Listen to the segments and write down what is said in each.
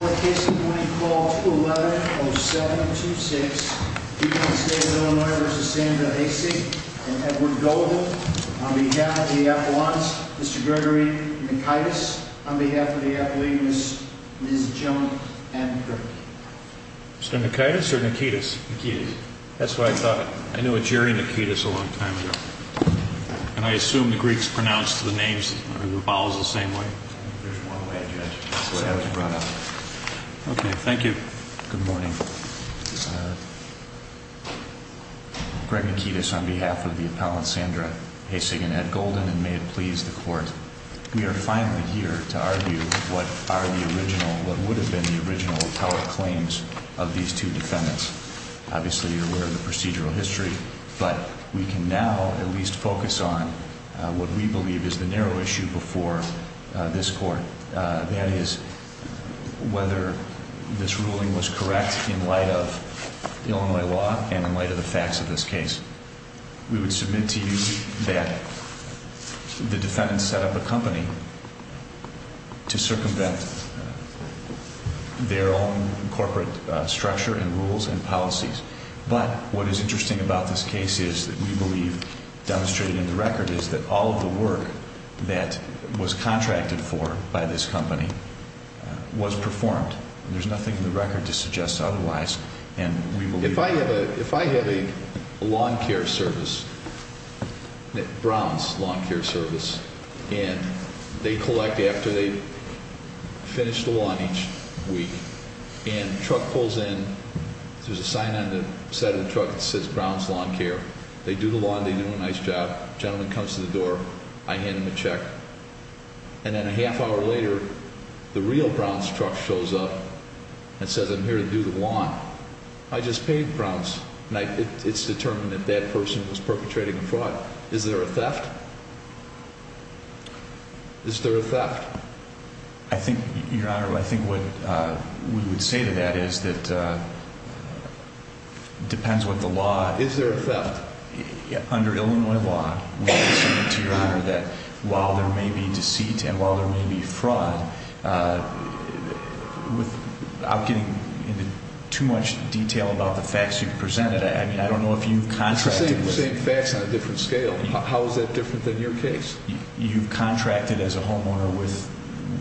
In this case, I'm going to call to a letter of 726, D.C. State of Illinois v. Sandra Haissig and Edward Golden on behalf of the athletes, Mr. Gregory Nikitas, on behalf of the athletes, Ms. Joan M. Kirk. Mr. Nikitas or Nikitas? Nikitas. That's what I thought. I knew a Jerry Nikitas a long time ago. And I assume the Greeks pronounced the names, or the vowels, the same way. There's one way, Judge. That's the way I was brought up. Okay, thank you. Good morning. Greg Nikitas on behalf of the appellant, Sandra Haissig and Ed Golden, and may it please the Court, we are finally here to argue what are the original, what would have been the original appellate claims of these two defendants. Obviously, you're aware of the procedural history, but we can now at least focus on what we believe is the narrow issue before this Court. That is whether this ruling was correct in light of Illinois law and in light of the facts of this case. We would submit to you that the defendants set up a company to circumvent their own corporate structure and rules and policies. But what is interesting about this case is that we believe, demonstrated in the record, is that all of the work that was contracted for by this company was performed. There's nothing in the record to suggest otherwise. If I have a lawn care service, Brown's lawn care service, and they collect after they finish the lawn each week, and the truck pulls in, there's a sign on the side of the truck that says Brown's lawn care. They do the lawn, they do a nice job. A gentleman comes to the door, I hand him a check, and then a half hour later, the real Brown's truck shows up and says, I'm here to do the lawn. I just paid Brown's, and it's determined that that person was perpetrating a fraud. Is there a theft? Is there a theft? I think, Your Honor, I think what we would say to that is that it depends what the law... Is there a theft? Under Illinois law, we would say to Your Honor that while there may be deceit and while there may be fraud, without getting into too much detail about the facts you've presented, I mean, I don't know if you've contracted... The same facts on a different scale. How is that different than your case? You've contracted as a homeowner with,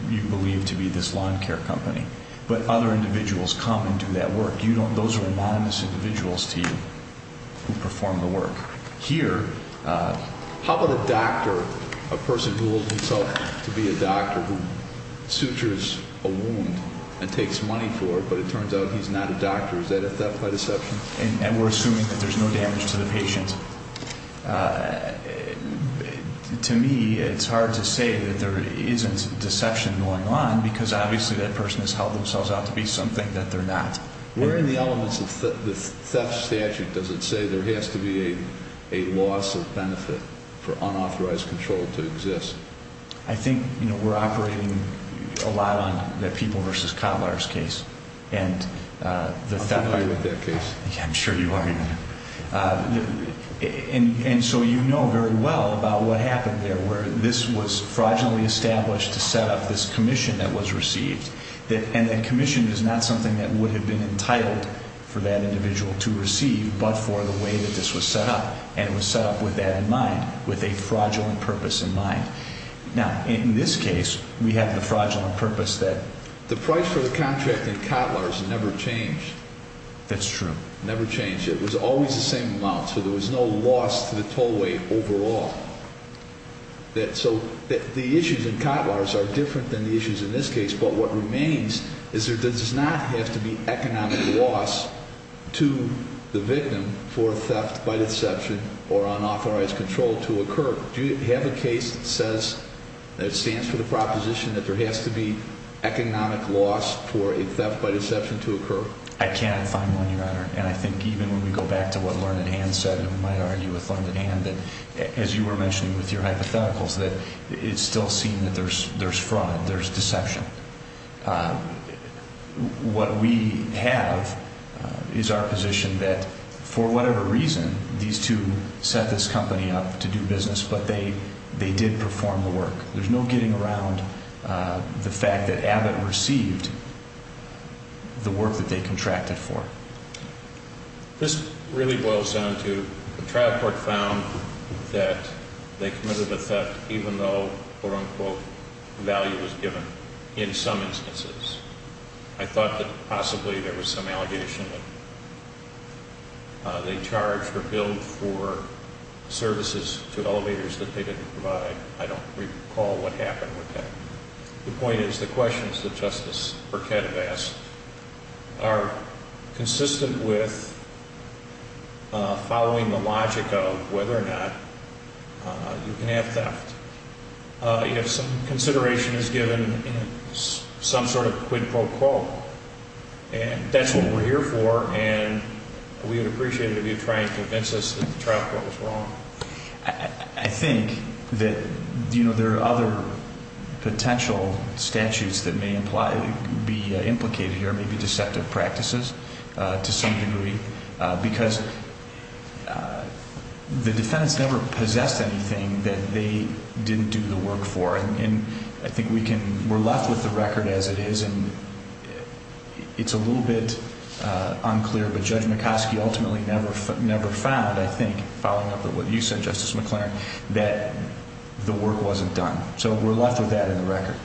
you believe, to be this lawn care company. But other individuals come and do that work. Those are anonymous individuals to you who perform the work. Here, how about a doctor, a person who holds himself to be a doctor who sutures a wound and takes money for it, but it turns out he's not a doctor. Is that a theft by deception? And we're assuming that there's no damage to the patient. To me, it's hard to say that there isn't deception going on because obviously that person has held themselves out to be something that they're not. Where in the elements of the theft statute does it say there has to be a loss of benefit for unauthorized control to exist? I think we're operating a lot on the People v. Cottler's case. I'm familiar with that case. I'm sure you are, Your Honor. And so you know very well about what happened there where this was fraudulently established to set up this commission that was received. And a commission is not something that would have been entitled for that individual to receive but for the way that this was set up. And it was set up with that in mind, with a fraudulent purpose in mind. Now, in this case, we have the fraudulent purpose that... The price for the contract in Cottler's never changed. That's true. Never changed. It was always the same amount, so there was no loss to the tollway overall. So the issues in Cottler's are different than the issues in this case, but what remains is there does not have to be economic loss to the victim for theft by deception or unauthorized control to occur. Do you have a case that says, that stands for the proposition that there has to be economic loss for a theft by deception to occur? I can't find one, Your Honor. And I think even when we go back to what Learned Hand said, and we might argue with Learned Hand that, as you were mentioning with your hypotheticals, that it's still seen that there's fraud, there's deception. What we have is our position that, for whatever reason, these two set this company up to do business, but they did perform the work. There's no getting around the fact that Abbott received the work that they contracted for. This really boils down to the trial court found that they committed the theft even though, quote unquote, value was given in some instances. I thought that possibly there was some allegation that they charged or billed for services to elevators that they didn't provide. I don't recall what happened with that. The point is, the questions that Justice Burkett asked are consistent with following the logic of whether or not you can have theft. If some consideration is given in some sort of quid pro quo, that's what we're here for, and we would appreciate it if you'd try and convince us that the trial court was wrong. I think that there are other potential statutes that may be implicated here, maybe deceptive practices to some degree, because the defendants never possessed anything that they didn't do the work for. We're left with the record as it is. It's a little bit unclear, but Judge McCoskey ultimately never found, I think, following up with what you said, Justice McLaren, that the work wasn't done. We're left with that in the record.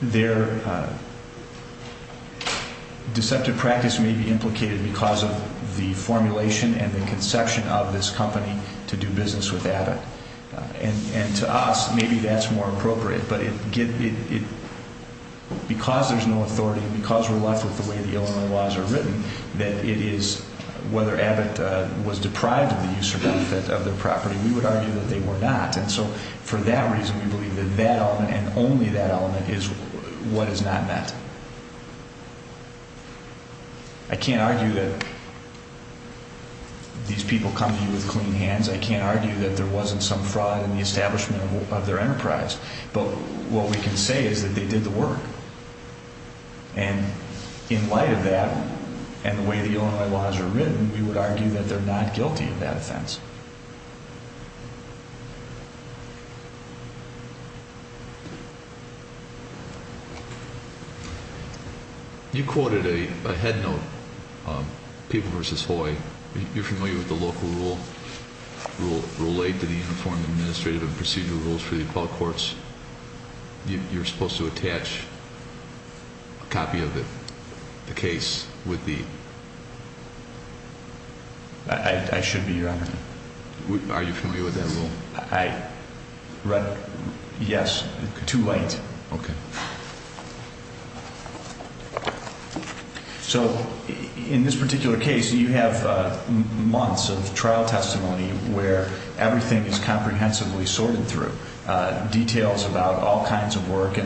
Their deceptive practice may be implicated because of the formulation and the conception of this company to do business with Abbott. To us, maybe that's more appropriate, but because there's no authority, because we're left with the way the Illinois laws are written, that it is, whether Abbott was deprived of the use of their property, we would argue that they were not. For that reason, we believe that that element and only that element is what is not met. I can't argue that these people come to you with clean hands. I can't argue that there wasn't some fraud in the establishment of their enterprise, but what we can say is that they did the work. In light of that and the way the Illinois laws are written, we would argue that they're not guilty of that offense....... You quoted a headnote, People v. Hoy. You're familiar with the local rule, Rule 8 to the Uniform Administrative and Procedural Rules for the Appellate Courts. You're supposed to attach a copy of the case with the... I should be, Your Honor. Are you familiar with that rule? Yes. Too late. In this particular case, you have months of trial testimony where everything is comprehensively sorted through, details about all kinds of work.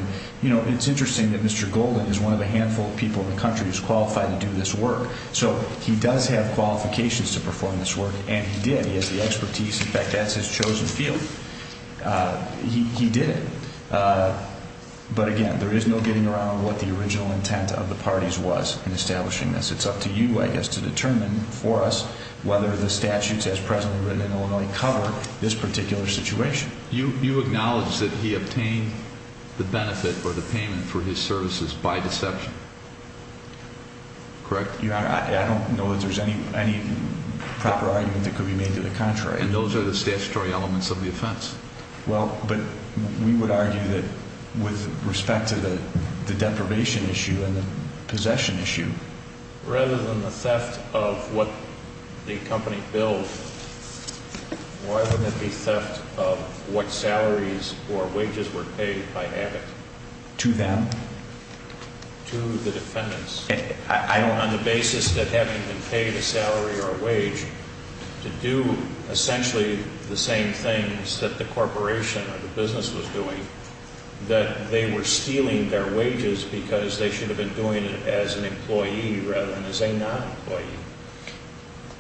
It's interesting that Mr. Golden is one of the handful of people in the country who's qualified to do this work. He does have qualifications to perform this work, and he did. He has the expertise. In fact, that's his chosen field. He did it. But again, there is no getting around what the original intent of the parties was in establishing this. It's up to you, I guess, to determine for us whether the statutes as presently written in Illinois cover this particular situation. You acknowledge that he obtained the benefit or the payment for his services by deception? Correct. I don't know that there's any proper argument that could be made to the contrary. And those are the statutory elements of the offense. Well, but we would argue that with respect to the deprivation issue and the possession issue... Rather than the theft of what the company bills, why wouldn't it be theft of what salaries or wages were paid by Abbott? To them? To the defendants. On the basis that having been paid a salary or a wage to do essentially the same things that the corporation or the business was doing, that they were stealing their wages because they should have been doing it as an employee rather than as a non-employee.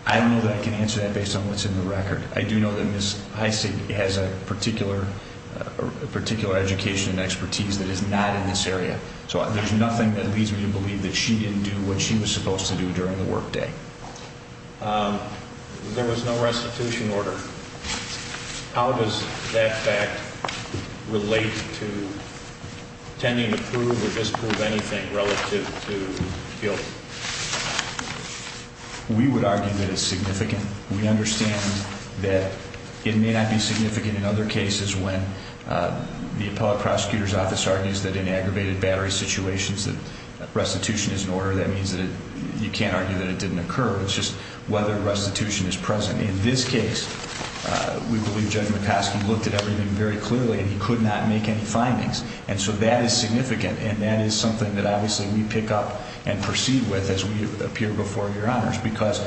I don't know that I can answer that based on what's in the record. I do know that Ms. Heise has a particular education and expertise that is not in this area. So there's nothing that leads me to believe that she didn't do what she was supposed to do during the workday. There was no restitution order. How does that fact relate to tending to prove or disprove anything relative to guilt? We would argue that it's significant. We understand that it may not be The appellate prosecutor's office argues that in aggravated battery situations that restitution is in order. That means that you can't argue that it didn't occur. It's just whether restitution is present. In this case we believe Judge McCoskey looked at everything very clearly and he could not make any findings. And so that is significant and that is something that obviously we pick up and proceed with as we appear before your honors because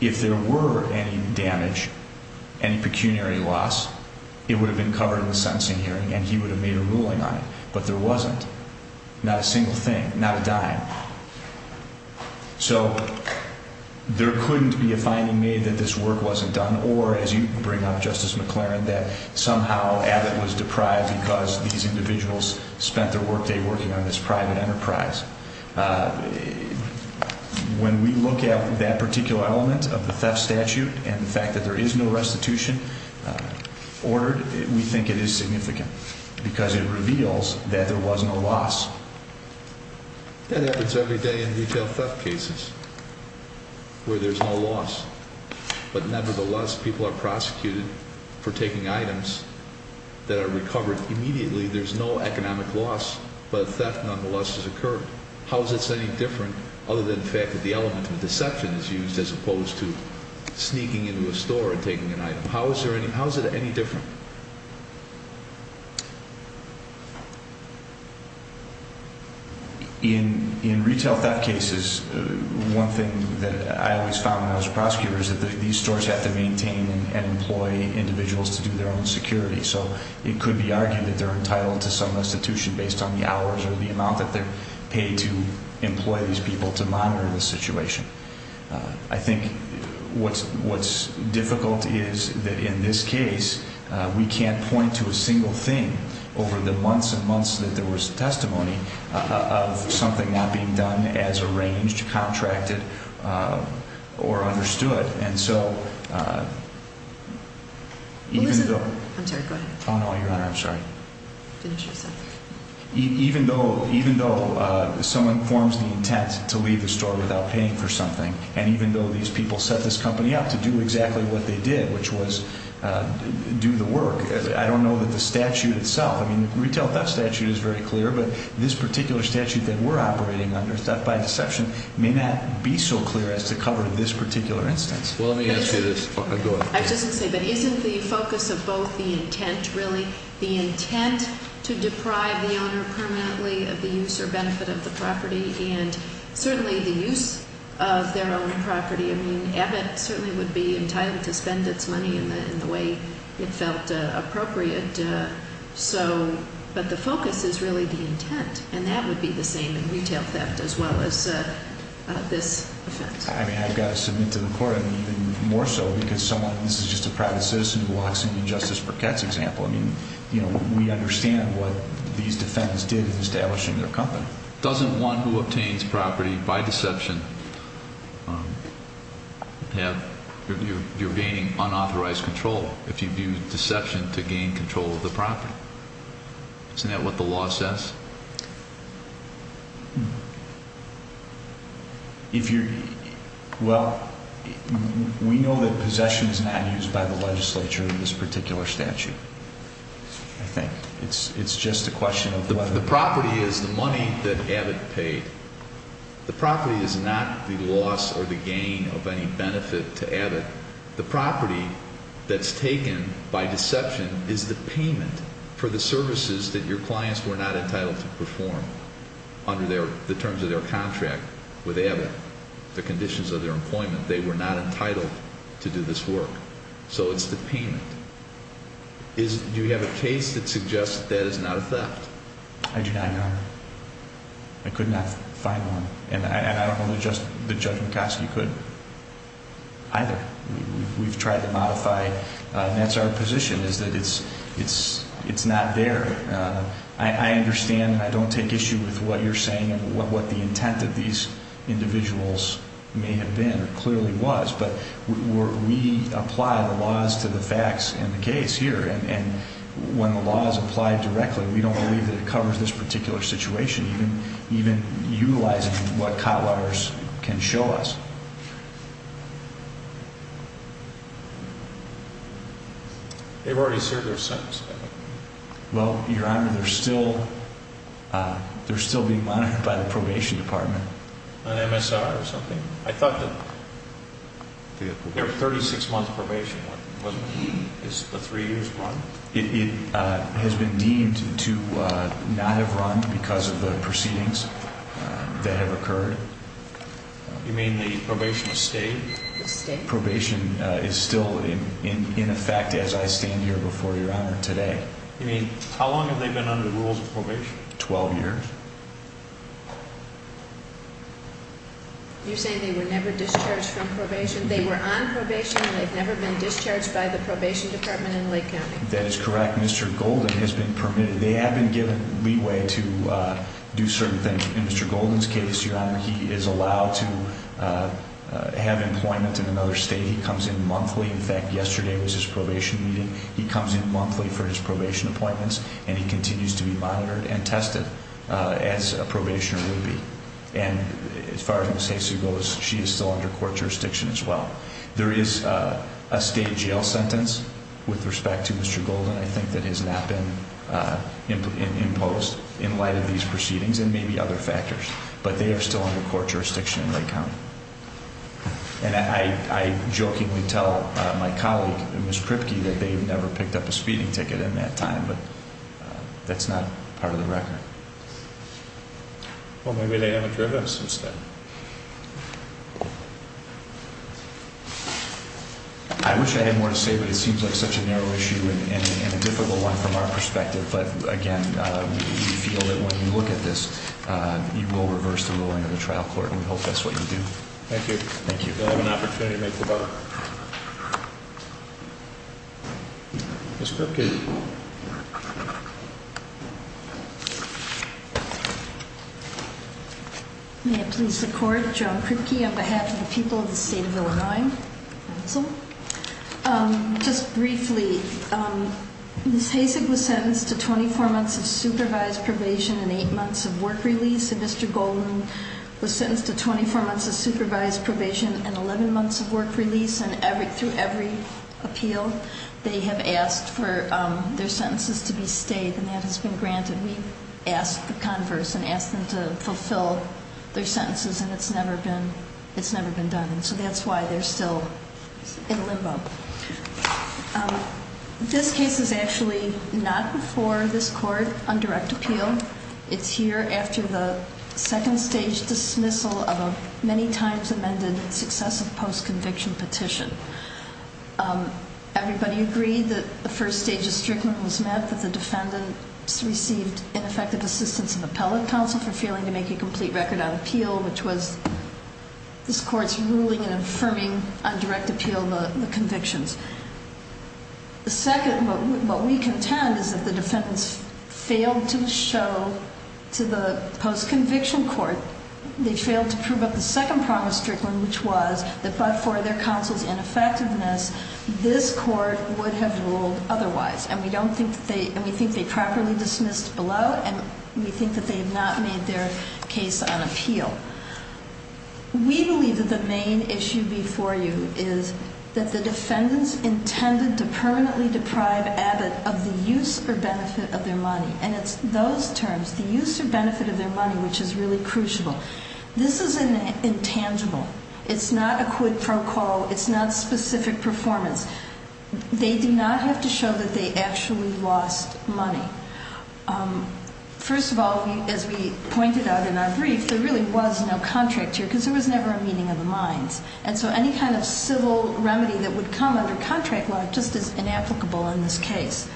if there were any damage, any pecuniary loss it would have been covered in the sentencing hearing and he would have made a ruling on it. But there wasn't. Not a single thing. Not a dime. So there couldn't be a finding made that this work wasn't done or as you bring up Justice McLaren that somehow Abbott was deprived because these individuals spent their workday working on this private enterprise. When we look at that particular element of the theft statute and the fact that there is no restitution ordered, we think it is significant because it reveals that there was no loss. That happens every day in retail theft cases where there's no loss but nevertheless people are prosecuted for taking items that are recovered immediately. There's no economic loss but theft nonetheless has occurred. How is it any different other than the fact that the element of deception is used as opposed to taking an item? How is it any different? In retail theft cases, one thing that I always found when I was a prosecutor is that these stores have to maintain and employ individuals to do their own security. So it could be argued that they're entitled to some restitution based on the hours or the amount that they're paid to employ these people to monitor the situation. I think what's difficult is that in this case we can't point to a single thing over the months and months that there was testimony of something not being done as arranged, contracted, or understood. Even though someone forms the intent to leave the store without a warrant, I don't know how many people set this company up to do exactly what they did which was do the work. I don't know that the statute itself I mean the retail theft statute is very clear but this particular statute that we're operating under, theft by deception, may not be so clear as to cover this particular instance. Isn't the focus of both the intent really? The intent to deprive the owner permanently of the use or benefit of the property and certainly the use of their own property. I mean Abbott certainly would be entitled to spend its money in the way it felt appropriate. But the focus is really the intent and that would be the same in retail theft as well as this offense. I mean I've got to submit to the court even more so because this is just a private citizen who walks into Justice Burkett's example. I mean we understand what these defendants did with establishing their company. Doesn't one who obtains property by deception have you're gaining unauthorized control if you do deception to gain control of the property? Isn't that what the law says? Well, we know that possession is not used by the legislature in this particular statute. I think it's just a question of whether The property is the money that Abbott paid. The property is not the loss or the gain of any benefit to Abbott. The property that's taken by deception is the payment for the services that your clients were not entitled to perform under the terms of their contract with Abbott, the conditions of their employment. They were not entitled to do this work. So it's the payment. Do you have a case that suggests that is not a theft? I do not know. I could not find one. And I don't know that Judge McCoskey could either. We've tried to modify and that's our position is that it's not there. I understand and I don't take issue with what you're saying and what the intent of these individuals may have been or clearly was, but we apply the laws to the facts in the case here and when the laws apply directly, we don't believe that it covers this particular situation, even utilizing what Cottwaters can show us. They've already served their sentence. Well, Your Honor, they're still being monitored by the probation department. On MSR or something? I thought that they were 36 months probation. Is the three years run? It has been deemed to not have run because of the proceedings that have occurred. You mean the probation has stayed? The probation is still in effect as I stand here before Your Honor today. You mean how long have they been under the rules of probation? 12 years. You're saying they were never discharged from probation? They were on probation and they've never been discharged by the probation department in Lake County? That is correct. Mr. Golden has been permitted. They have been given leeway to do certain things. In Mr. Golden's case, Your Honor, he is allowed to have employment in another state. He comes in monthly. In fact, yesterday was his probation meeting. He comes in monthly for his probation appointments and he continues to be monitored and tested as a probationer would be. And as far as Ms. Haysu goes, she is still under court jurisdiction as well. There is a state jail sentence with respect to Mr. Golden, I think, that has not been imposed in light of these proceedings and maybe other factors, but they are still under court jurisdiction in Lake County. And I jokingly tell my colleague, Ms. Kripke, that they've never picked up a speeding ticket in that time, but that's not part of the record. Well, maybe they haven't driven since then. I wish I had more to say, but it seems like such a narrow issue and a difficult one from our perspective. But, again, we feel that when you look at this, you will reverse the ruling of the trial court and we hope that's what you do. Thank you. Thank you. You'll have an opportunity to make the bar. Ms. Kripke. May I please support Joan Kripke on behalf of the people of the state of Illinois? Just briefly, Ms. Haysug was sentenced to 24 months of supervised probation and 8 months of work release. Mr. Golden was sentenced to 24 months of supervised probation and 11 months of work release. And through every appeal they have asked for their sentences to be stayed and that has been granted. We've asked the converse and asked them to fulfill their sentences and it's never been done. And so that's why they're still in limbo. This case is actually not before this court on direct appeal. It's here after the second stage dismissal of a many times amended successive post-conviction petition. Everybody agreed that the first stage of strickland was met, that the defendants received ineffective assistance of appellate counsel for failing to make a complete record on appeal, which was this court's ruling and affirming on direct appeal of the convictions. The second, what we contend, is that the defendants failed to show to the post-conviction court, they failed to prove up the second promise strickland, which was that but for their counsel's ineffectiveness, this court would have ruled otherwise. And we think they properly dismissed below and we think that they have not made their case on appeal. We believe that the main issue before you is that the defendants intended to permanently deprive Abbott of the use or benefit of their money. And it's those terms, the use or benefit of their money, which is really crucial. This is intangible. It's not a quid pro quo. It's not specific performance. They do not have to show that they actually lost money. First of all, as we pointed out in our brief, there really was no contract here, because there was never a meeting of the minds. And so any kind of civil remedy that would come under contract law just is inapplicable in this case.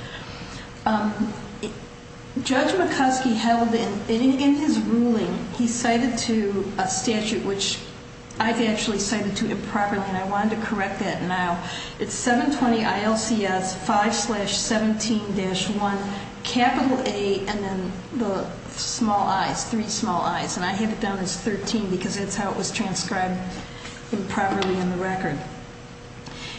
Judge McCoskey held in his ruling, he cited to a statute which I've actually cited to improperly, and I wanted to correct that now. It's 720 ILCS 5-17-1 capital A and then the small i's, three small i's. And I have it down as 13, because that's how it was transcribed improperly in the record.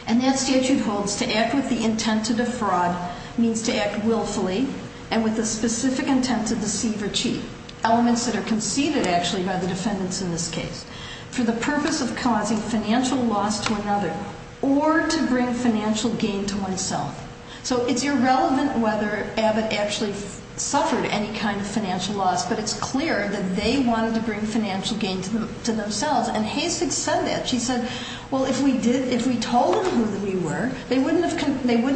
And that statute holds to act with the intent to defraud means to act willfully and with the specific intent to deceive or cheat. Elements that are conceded actually by the defendants in this case. For the purpose of causing financial loss to another or to bring financial gain to oneself. So it's irrelevant whether Abbott actually suffered any kind of financial loss, but it's clear that they wanted to bring financial gain to themselves. And Hasek said that. She said, well, if we told them who we were, they wouldn't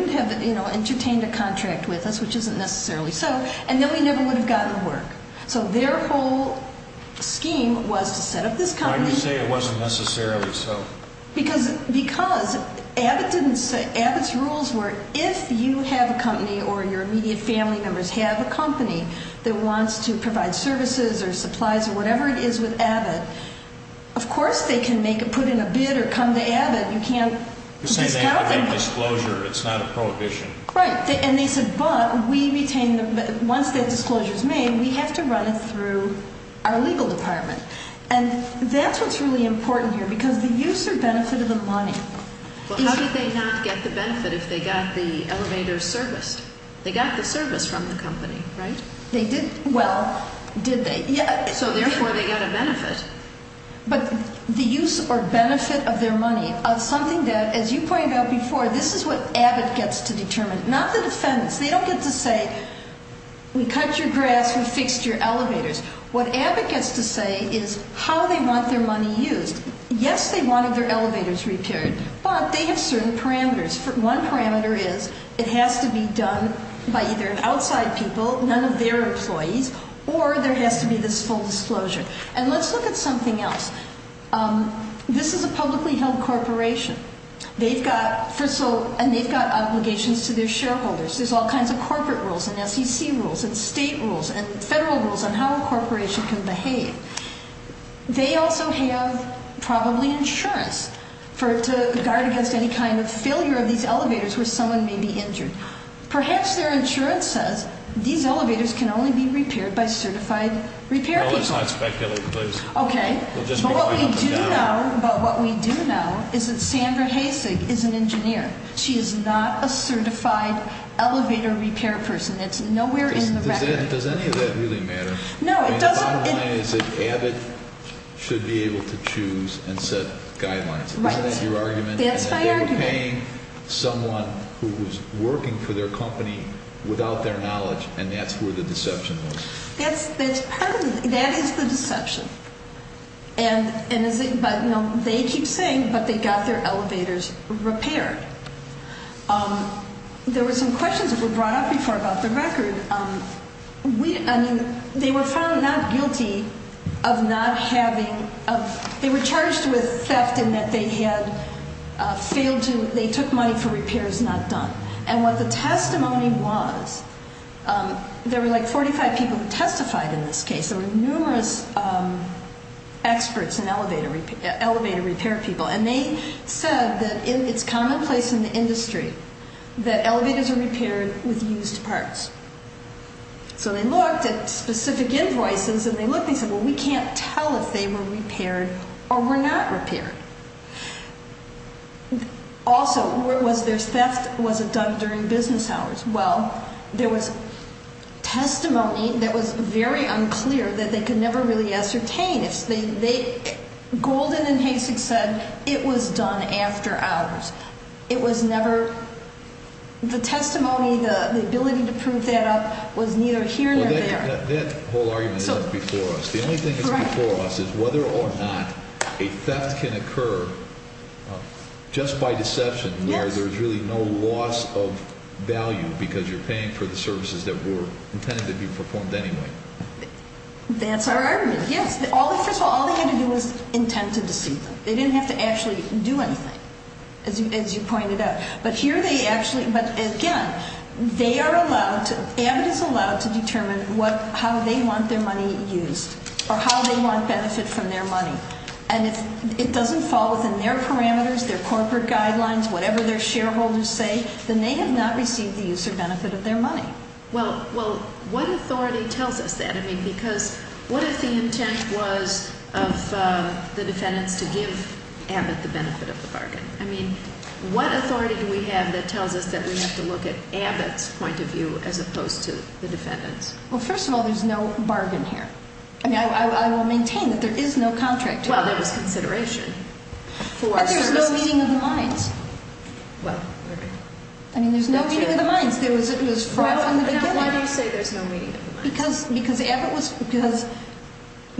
have, you know, entertained a contract with us, which isn't necessarily so. And then we never would have gotten work. So their whole scheme was to set up this company. Why do you say it wasn't necessarily so? Because Abbott's rules were if you have a company or your immediate family members have a company that wants to provide services or supplies or whatever it is with Abbott, of course they can make it in a bid or come to Abbott. You can't discount them. You're saying they have to make disclosure. It's not a prohibition. Right. And they said, but we retain once that disclosure is made, we have to run it through our legal department. And that's what's really important here. Because the use or benefit of the money. Well, how did they not get the benefit if they got the elevator serviced? They got the service from the company, right? They did. Well, did they? So therefore they got a benefit. But the use or benefit of their money of something that as you pointed out before, this is what Abbott gets to determine, not the defendants. They don't get to say, we cut your grass, we fixed your elevators. What Abbott gets to say is how they want their money used. Yes, they wanted their elevators repaired, but they have certain parameters. One parameter is it has to be done by either an outside people, none of their employees, or there has to be this full disclosure. And let's look at something else. This is a publicly held corporation. They've got, first of all, and they've got obligations to their shareholders. There's all kinds of corporate rules and SEC rules and state rules and federal rules on how a corporation can behave. They also have probably insurance to guard against any kind of failure of these elevators where someone may be injured. Perhaps their insurance says these elevators can only be repaired by certified repair people. No, let's not speculate, please. But what we do know is that Sandra Hasig is an engineer. She is not a certified elevator repair person. It's nowhere in the record. Does any of that really matter? No, it doesn't. The bottom line is that Abbott should be able to choose and set guidelines. Isn't that your argument? That's my argument. If they were paying someone who was working for their company without their knowledge and that's where the deception was. That is the deception. They keep saying but they got their elevators repaired. There were some questions that were brought up before about the record. They were found not guilty of not having they were charged with theft in that they had failed to, they took money for repairs not done. And what the testimony was, there were like 45 people who testified in this case. There were numerous experts in elevator repair people and they said that it's commonplace in the industry that elevators are repaired with used parts. So they looked at specific invoices and they said well we can't tell if they were repaired or were not repaired. Also, was there theft was it done during business hours? Well, there was testimony that was very unclear that they could never really ascertain. Golden and Hasek said it was done after hours. It was never, the testimony the ability to prove that up was neither here nor there. That whole argument isn't before us. The only thing that's before us is whether or not a theft can occur just by loss of value because you're paying for the services that were intended to be performed anyway. That's our argument, yes. First of all, all they had to do was intend to deceive them. They didn't have to actually do anything. As you pointed out. But here they actually again, they are allowed, Abbott is allowed to determine how they want their money used or how they want benefit from their money. And if it doesn't fall within their parameters, their corporate guidelines whatever their shareholders say, then they have not received the use or benefit of their money. Well, what authority tells us that? I mean, because what if the intent was of the defendants to give Abbott the benefit of the bargain? I mean, what authority do we have that tells us that we have to look at Abbott's point of view as opposed to the defendants? Well, first of all, there's no bargain here. I mean, I will maintain that there is no contract. Well, there was consideration for I mean, there's no meeting of the minds. I mean, there's no meeting of the minds. It was fraught from the beginning.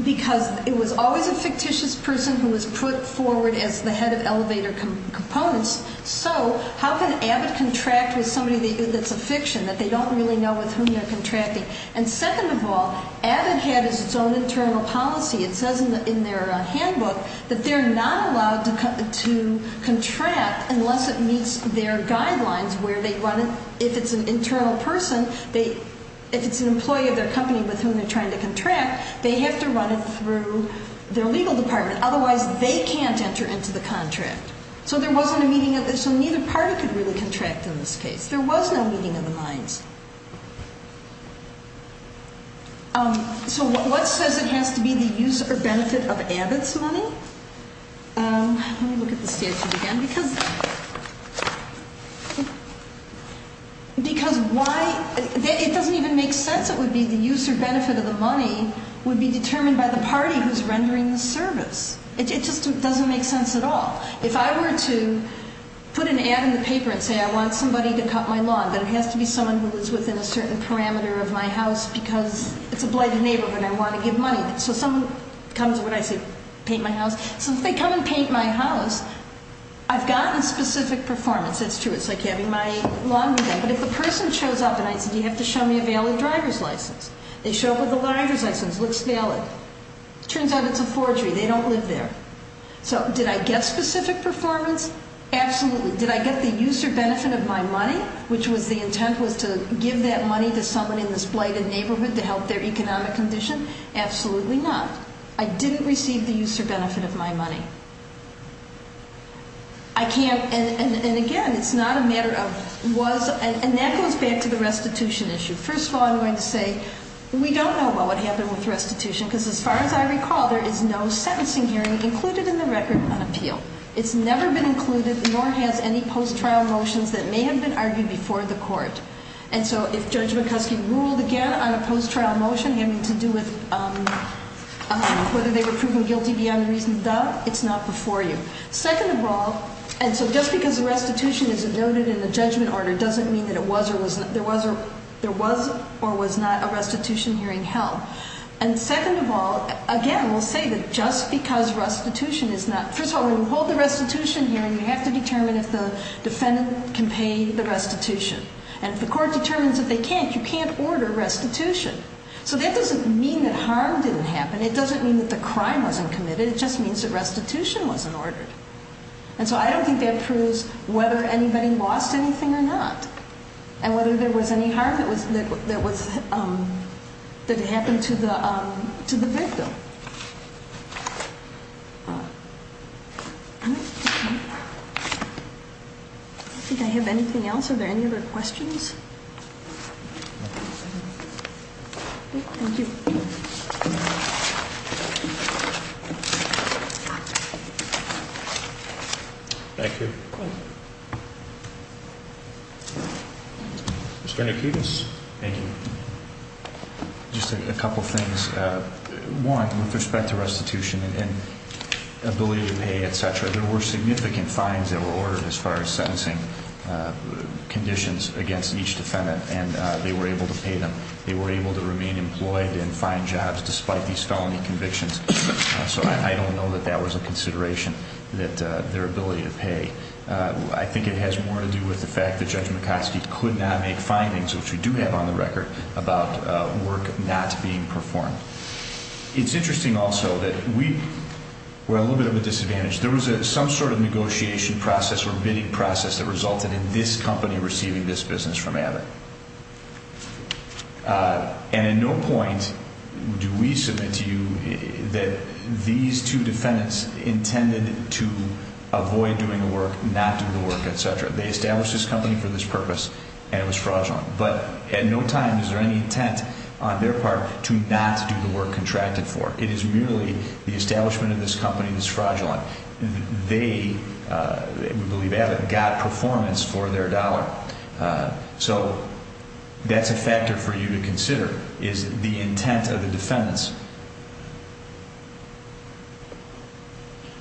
Because it was always a fictitious person who was put forward as the head of elevator components, so how can Abbott contract with somebody that's a fiction that they don't really know with whom they're contracting? And second of all, Abbott had his own internal policy. It says in their handbook that they're not allowed to contract unless it meets their guidelines where they run it. If it's an internal person, if it's an employee of their company with whom they're trying to contract, they have to run it through their legal department. Otherwise, they can't enter into the contract. So neither party could really contract in this case. There was no meeting of the minds. So what says it has to be the use or benefit of Abbott's money? Let me look at the statute again. Because why? It doesn't even make sense. It would be the use or benefit of the money would be determined by the party who's rendering the service. It just doesn't make sense at all. If I were to put an ad in the paper and say I want somebody to cut my lawn, but it has to be someone who is within a certain parameter of my house because it's a blighted neighborhood and I want to give money. So someone comes when I say paint my house. So if they come and paint my house, I've gotten specific performance. That's true. It's like having my lawn redone. But if a person shows up and I say do you have to show me a valid driver's license? They show up with a driver's license, looks valid. Turns out it's a forgery. They don't live there. So did I get specific performance? Absolutely. Did I get the use or benefit of my money, which was the intent was to give that money to someone in this particular condition? Absolutely not. I didn't receive the use or benefit of my money. I can't and again it's not a matter of was and that goes back to the restitution issue. First of all I'm going to say we don't know what happened with restitution because as far as I recall there is no sentencing hearing included in the record on appeal. It's never been included nor has any post trial motions that may have been argued before the court. And so if Judge McCuskey ruled again on a post trial motion having to do with whether they were proven guilty beyond a reason of doubt, it's not before you. Second of all, and so just because restitution is noted in the judgment order doesn't mean that there was or was not a restitution hearing held. And second of all, again we'll say that just because restitution is not, first of all when you hold the restitution hearing you have to determine if the defendant can pay the restitution. And if the defendant can't pay the restitution. So that doesn't mean that harm didn't happen. It doesn't mean that the crime wasn't committed. It just means that restitution wasn't ordered. And so I don't think that proves whether anybody lost anything or not. And whether there was any harm that was that happened to the victim. I don't think I have anything else. Are there any other questions? Thank you. Thank you. Mr. Nikidas. Just a couple things. One, with respect to restitution and ability to pay etc. There were significant fines that were ordered as far as sentencing conditions against each defendant. They were able to remain employed and find jobs despite these felony convictions. So I don't know that that was a consideration that their ability to pay. I think it has more to do with the fact that Judge McCoskey could not make findings, which we do have on the record, about work not being performed. It's interesting also that we were a little bit of a disadvantage. There was some sort of negotiation process or bidding process that resulted in this company receiving this business from Abbott. And at no point do we submit to you that these two defendants intended to avoid doing the work, not do the work, etc. They established this company for this purpose and it was fraudulent. But at no time is there any intent on their part to not do the work contracted for. It is merely the establishment of this company that's fraudulent. They, we believe Abbott, got performance for their dollar. So that's a factor for you to consider is the intent of the defendants.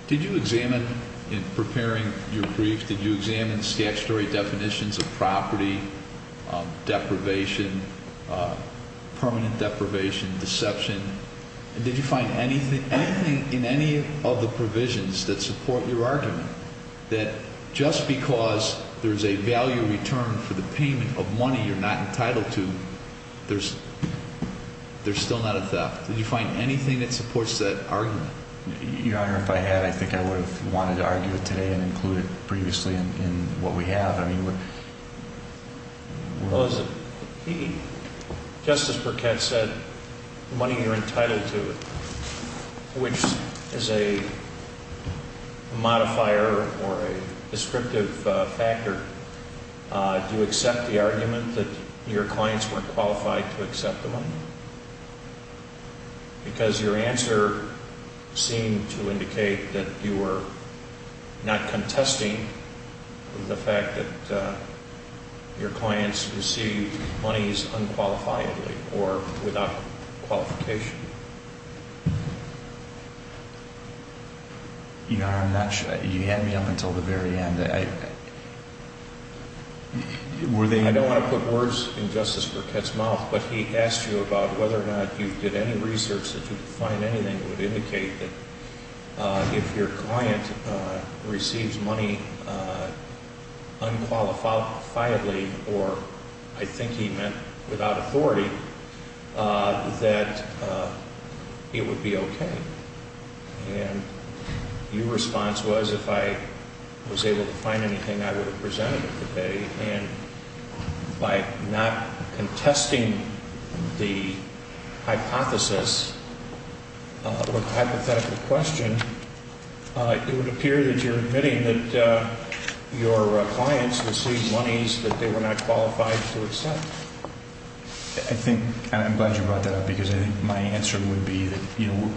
Did you examine in preparing your brief, did you examine statutory definitions of property, deprivation, permanent deprivation, deception? Did you find anything in any of the provisions that support your argument that just because there's a value return for the payment of money you're not entitled to, there's still not a theft? Did you find anything that supports that argument? Your Honor, if I had, I think I would have wanted to argue it today and include it previously in what we have. Justice Burkett said money you're entitled to, which is a quantifier or a descriptive factor, do you accept the argument that your clients weren't qualified to accept the money? Because your answer seemed to indicate that you were not contesting the fact that your clients received monies unqualifiably or without qualification. Your Honor, you had me up until the very end. I don't want to put words in Justice Burkett's mouth, but he asked you about whether or not you did any research that you could find anything that would indicate that if your client receives money unqualifiably or, I think he meant without authority, that it would be okay. And your response was if I was able to find anything, I would have presented it today and by not contesting the hypothesis or hypothetical question, it would appear that you're admitting that your clients received monies that they were not qualified to accept. I think, and I'm glad you brought that up, because I think my answer would be that, you know,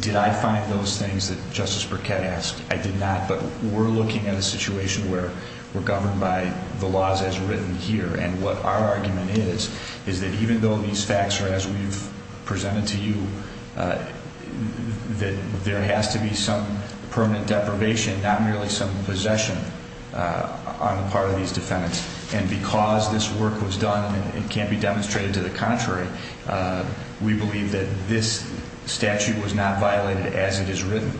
did I find those things that Justice Burkett asked? I did not. But we're looking at a situation where we're governed by the laws as written here, and what our argument is, is that even though these facts are as we've presented to you, that there has to be some permanent deprivation, not merely some possession on the part of these defendants. And because this work was done, and it can't be demonstrated to the contrary, we believe that this statute was not violated as it is written.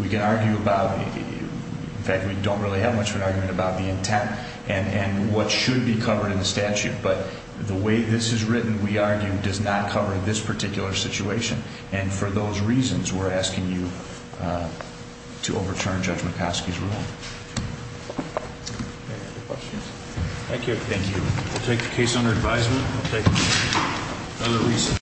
We can argue about in fact, we don't really have much of an argument about the intent and what should be covered in the statute, but the way this is written, we argue, does not cover this particular situation. And for those reasons, we're asking you to overturn Judge Mikoski's rule. Any other questions? Thank you. We'll take the case under advisement.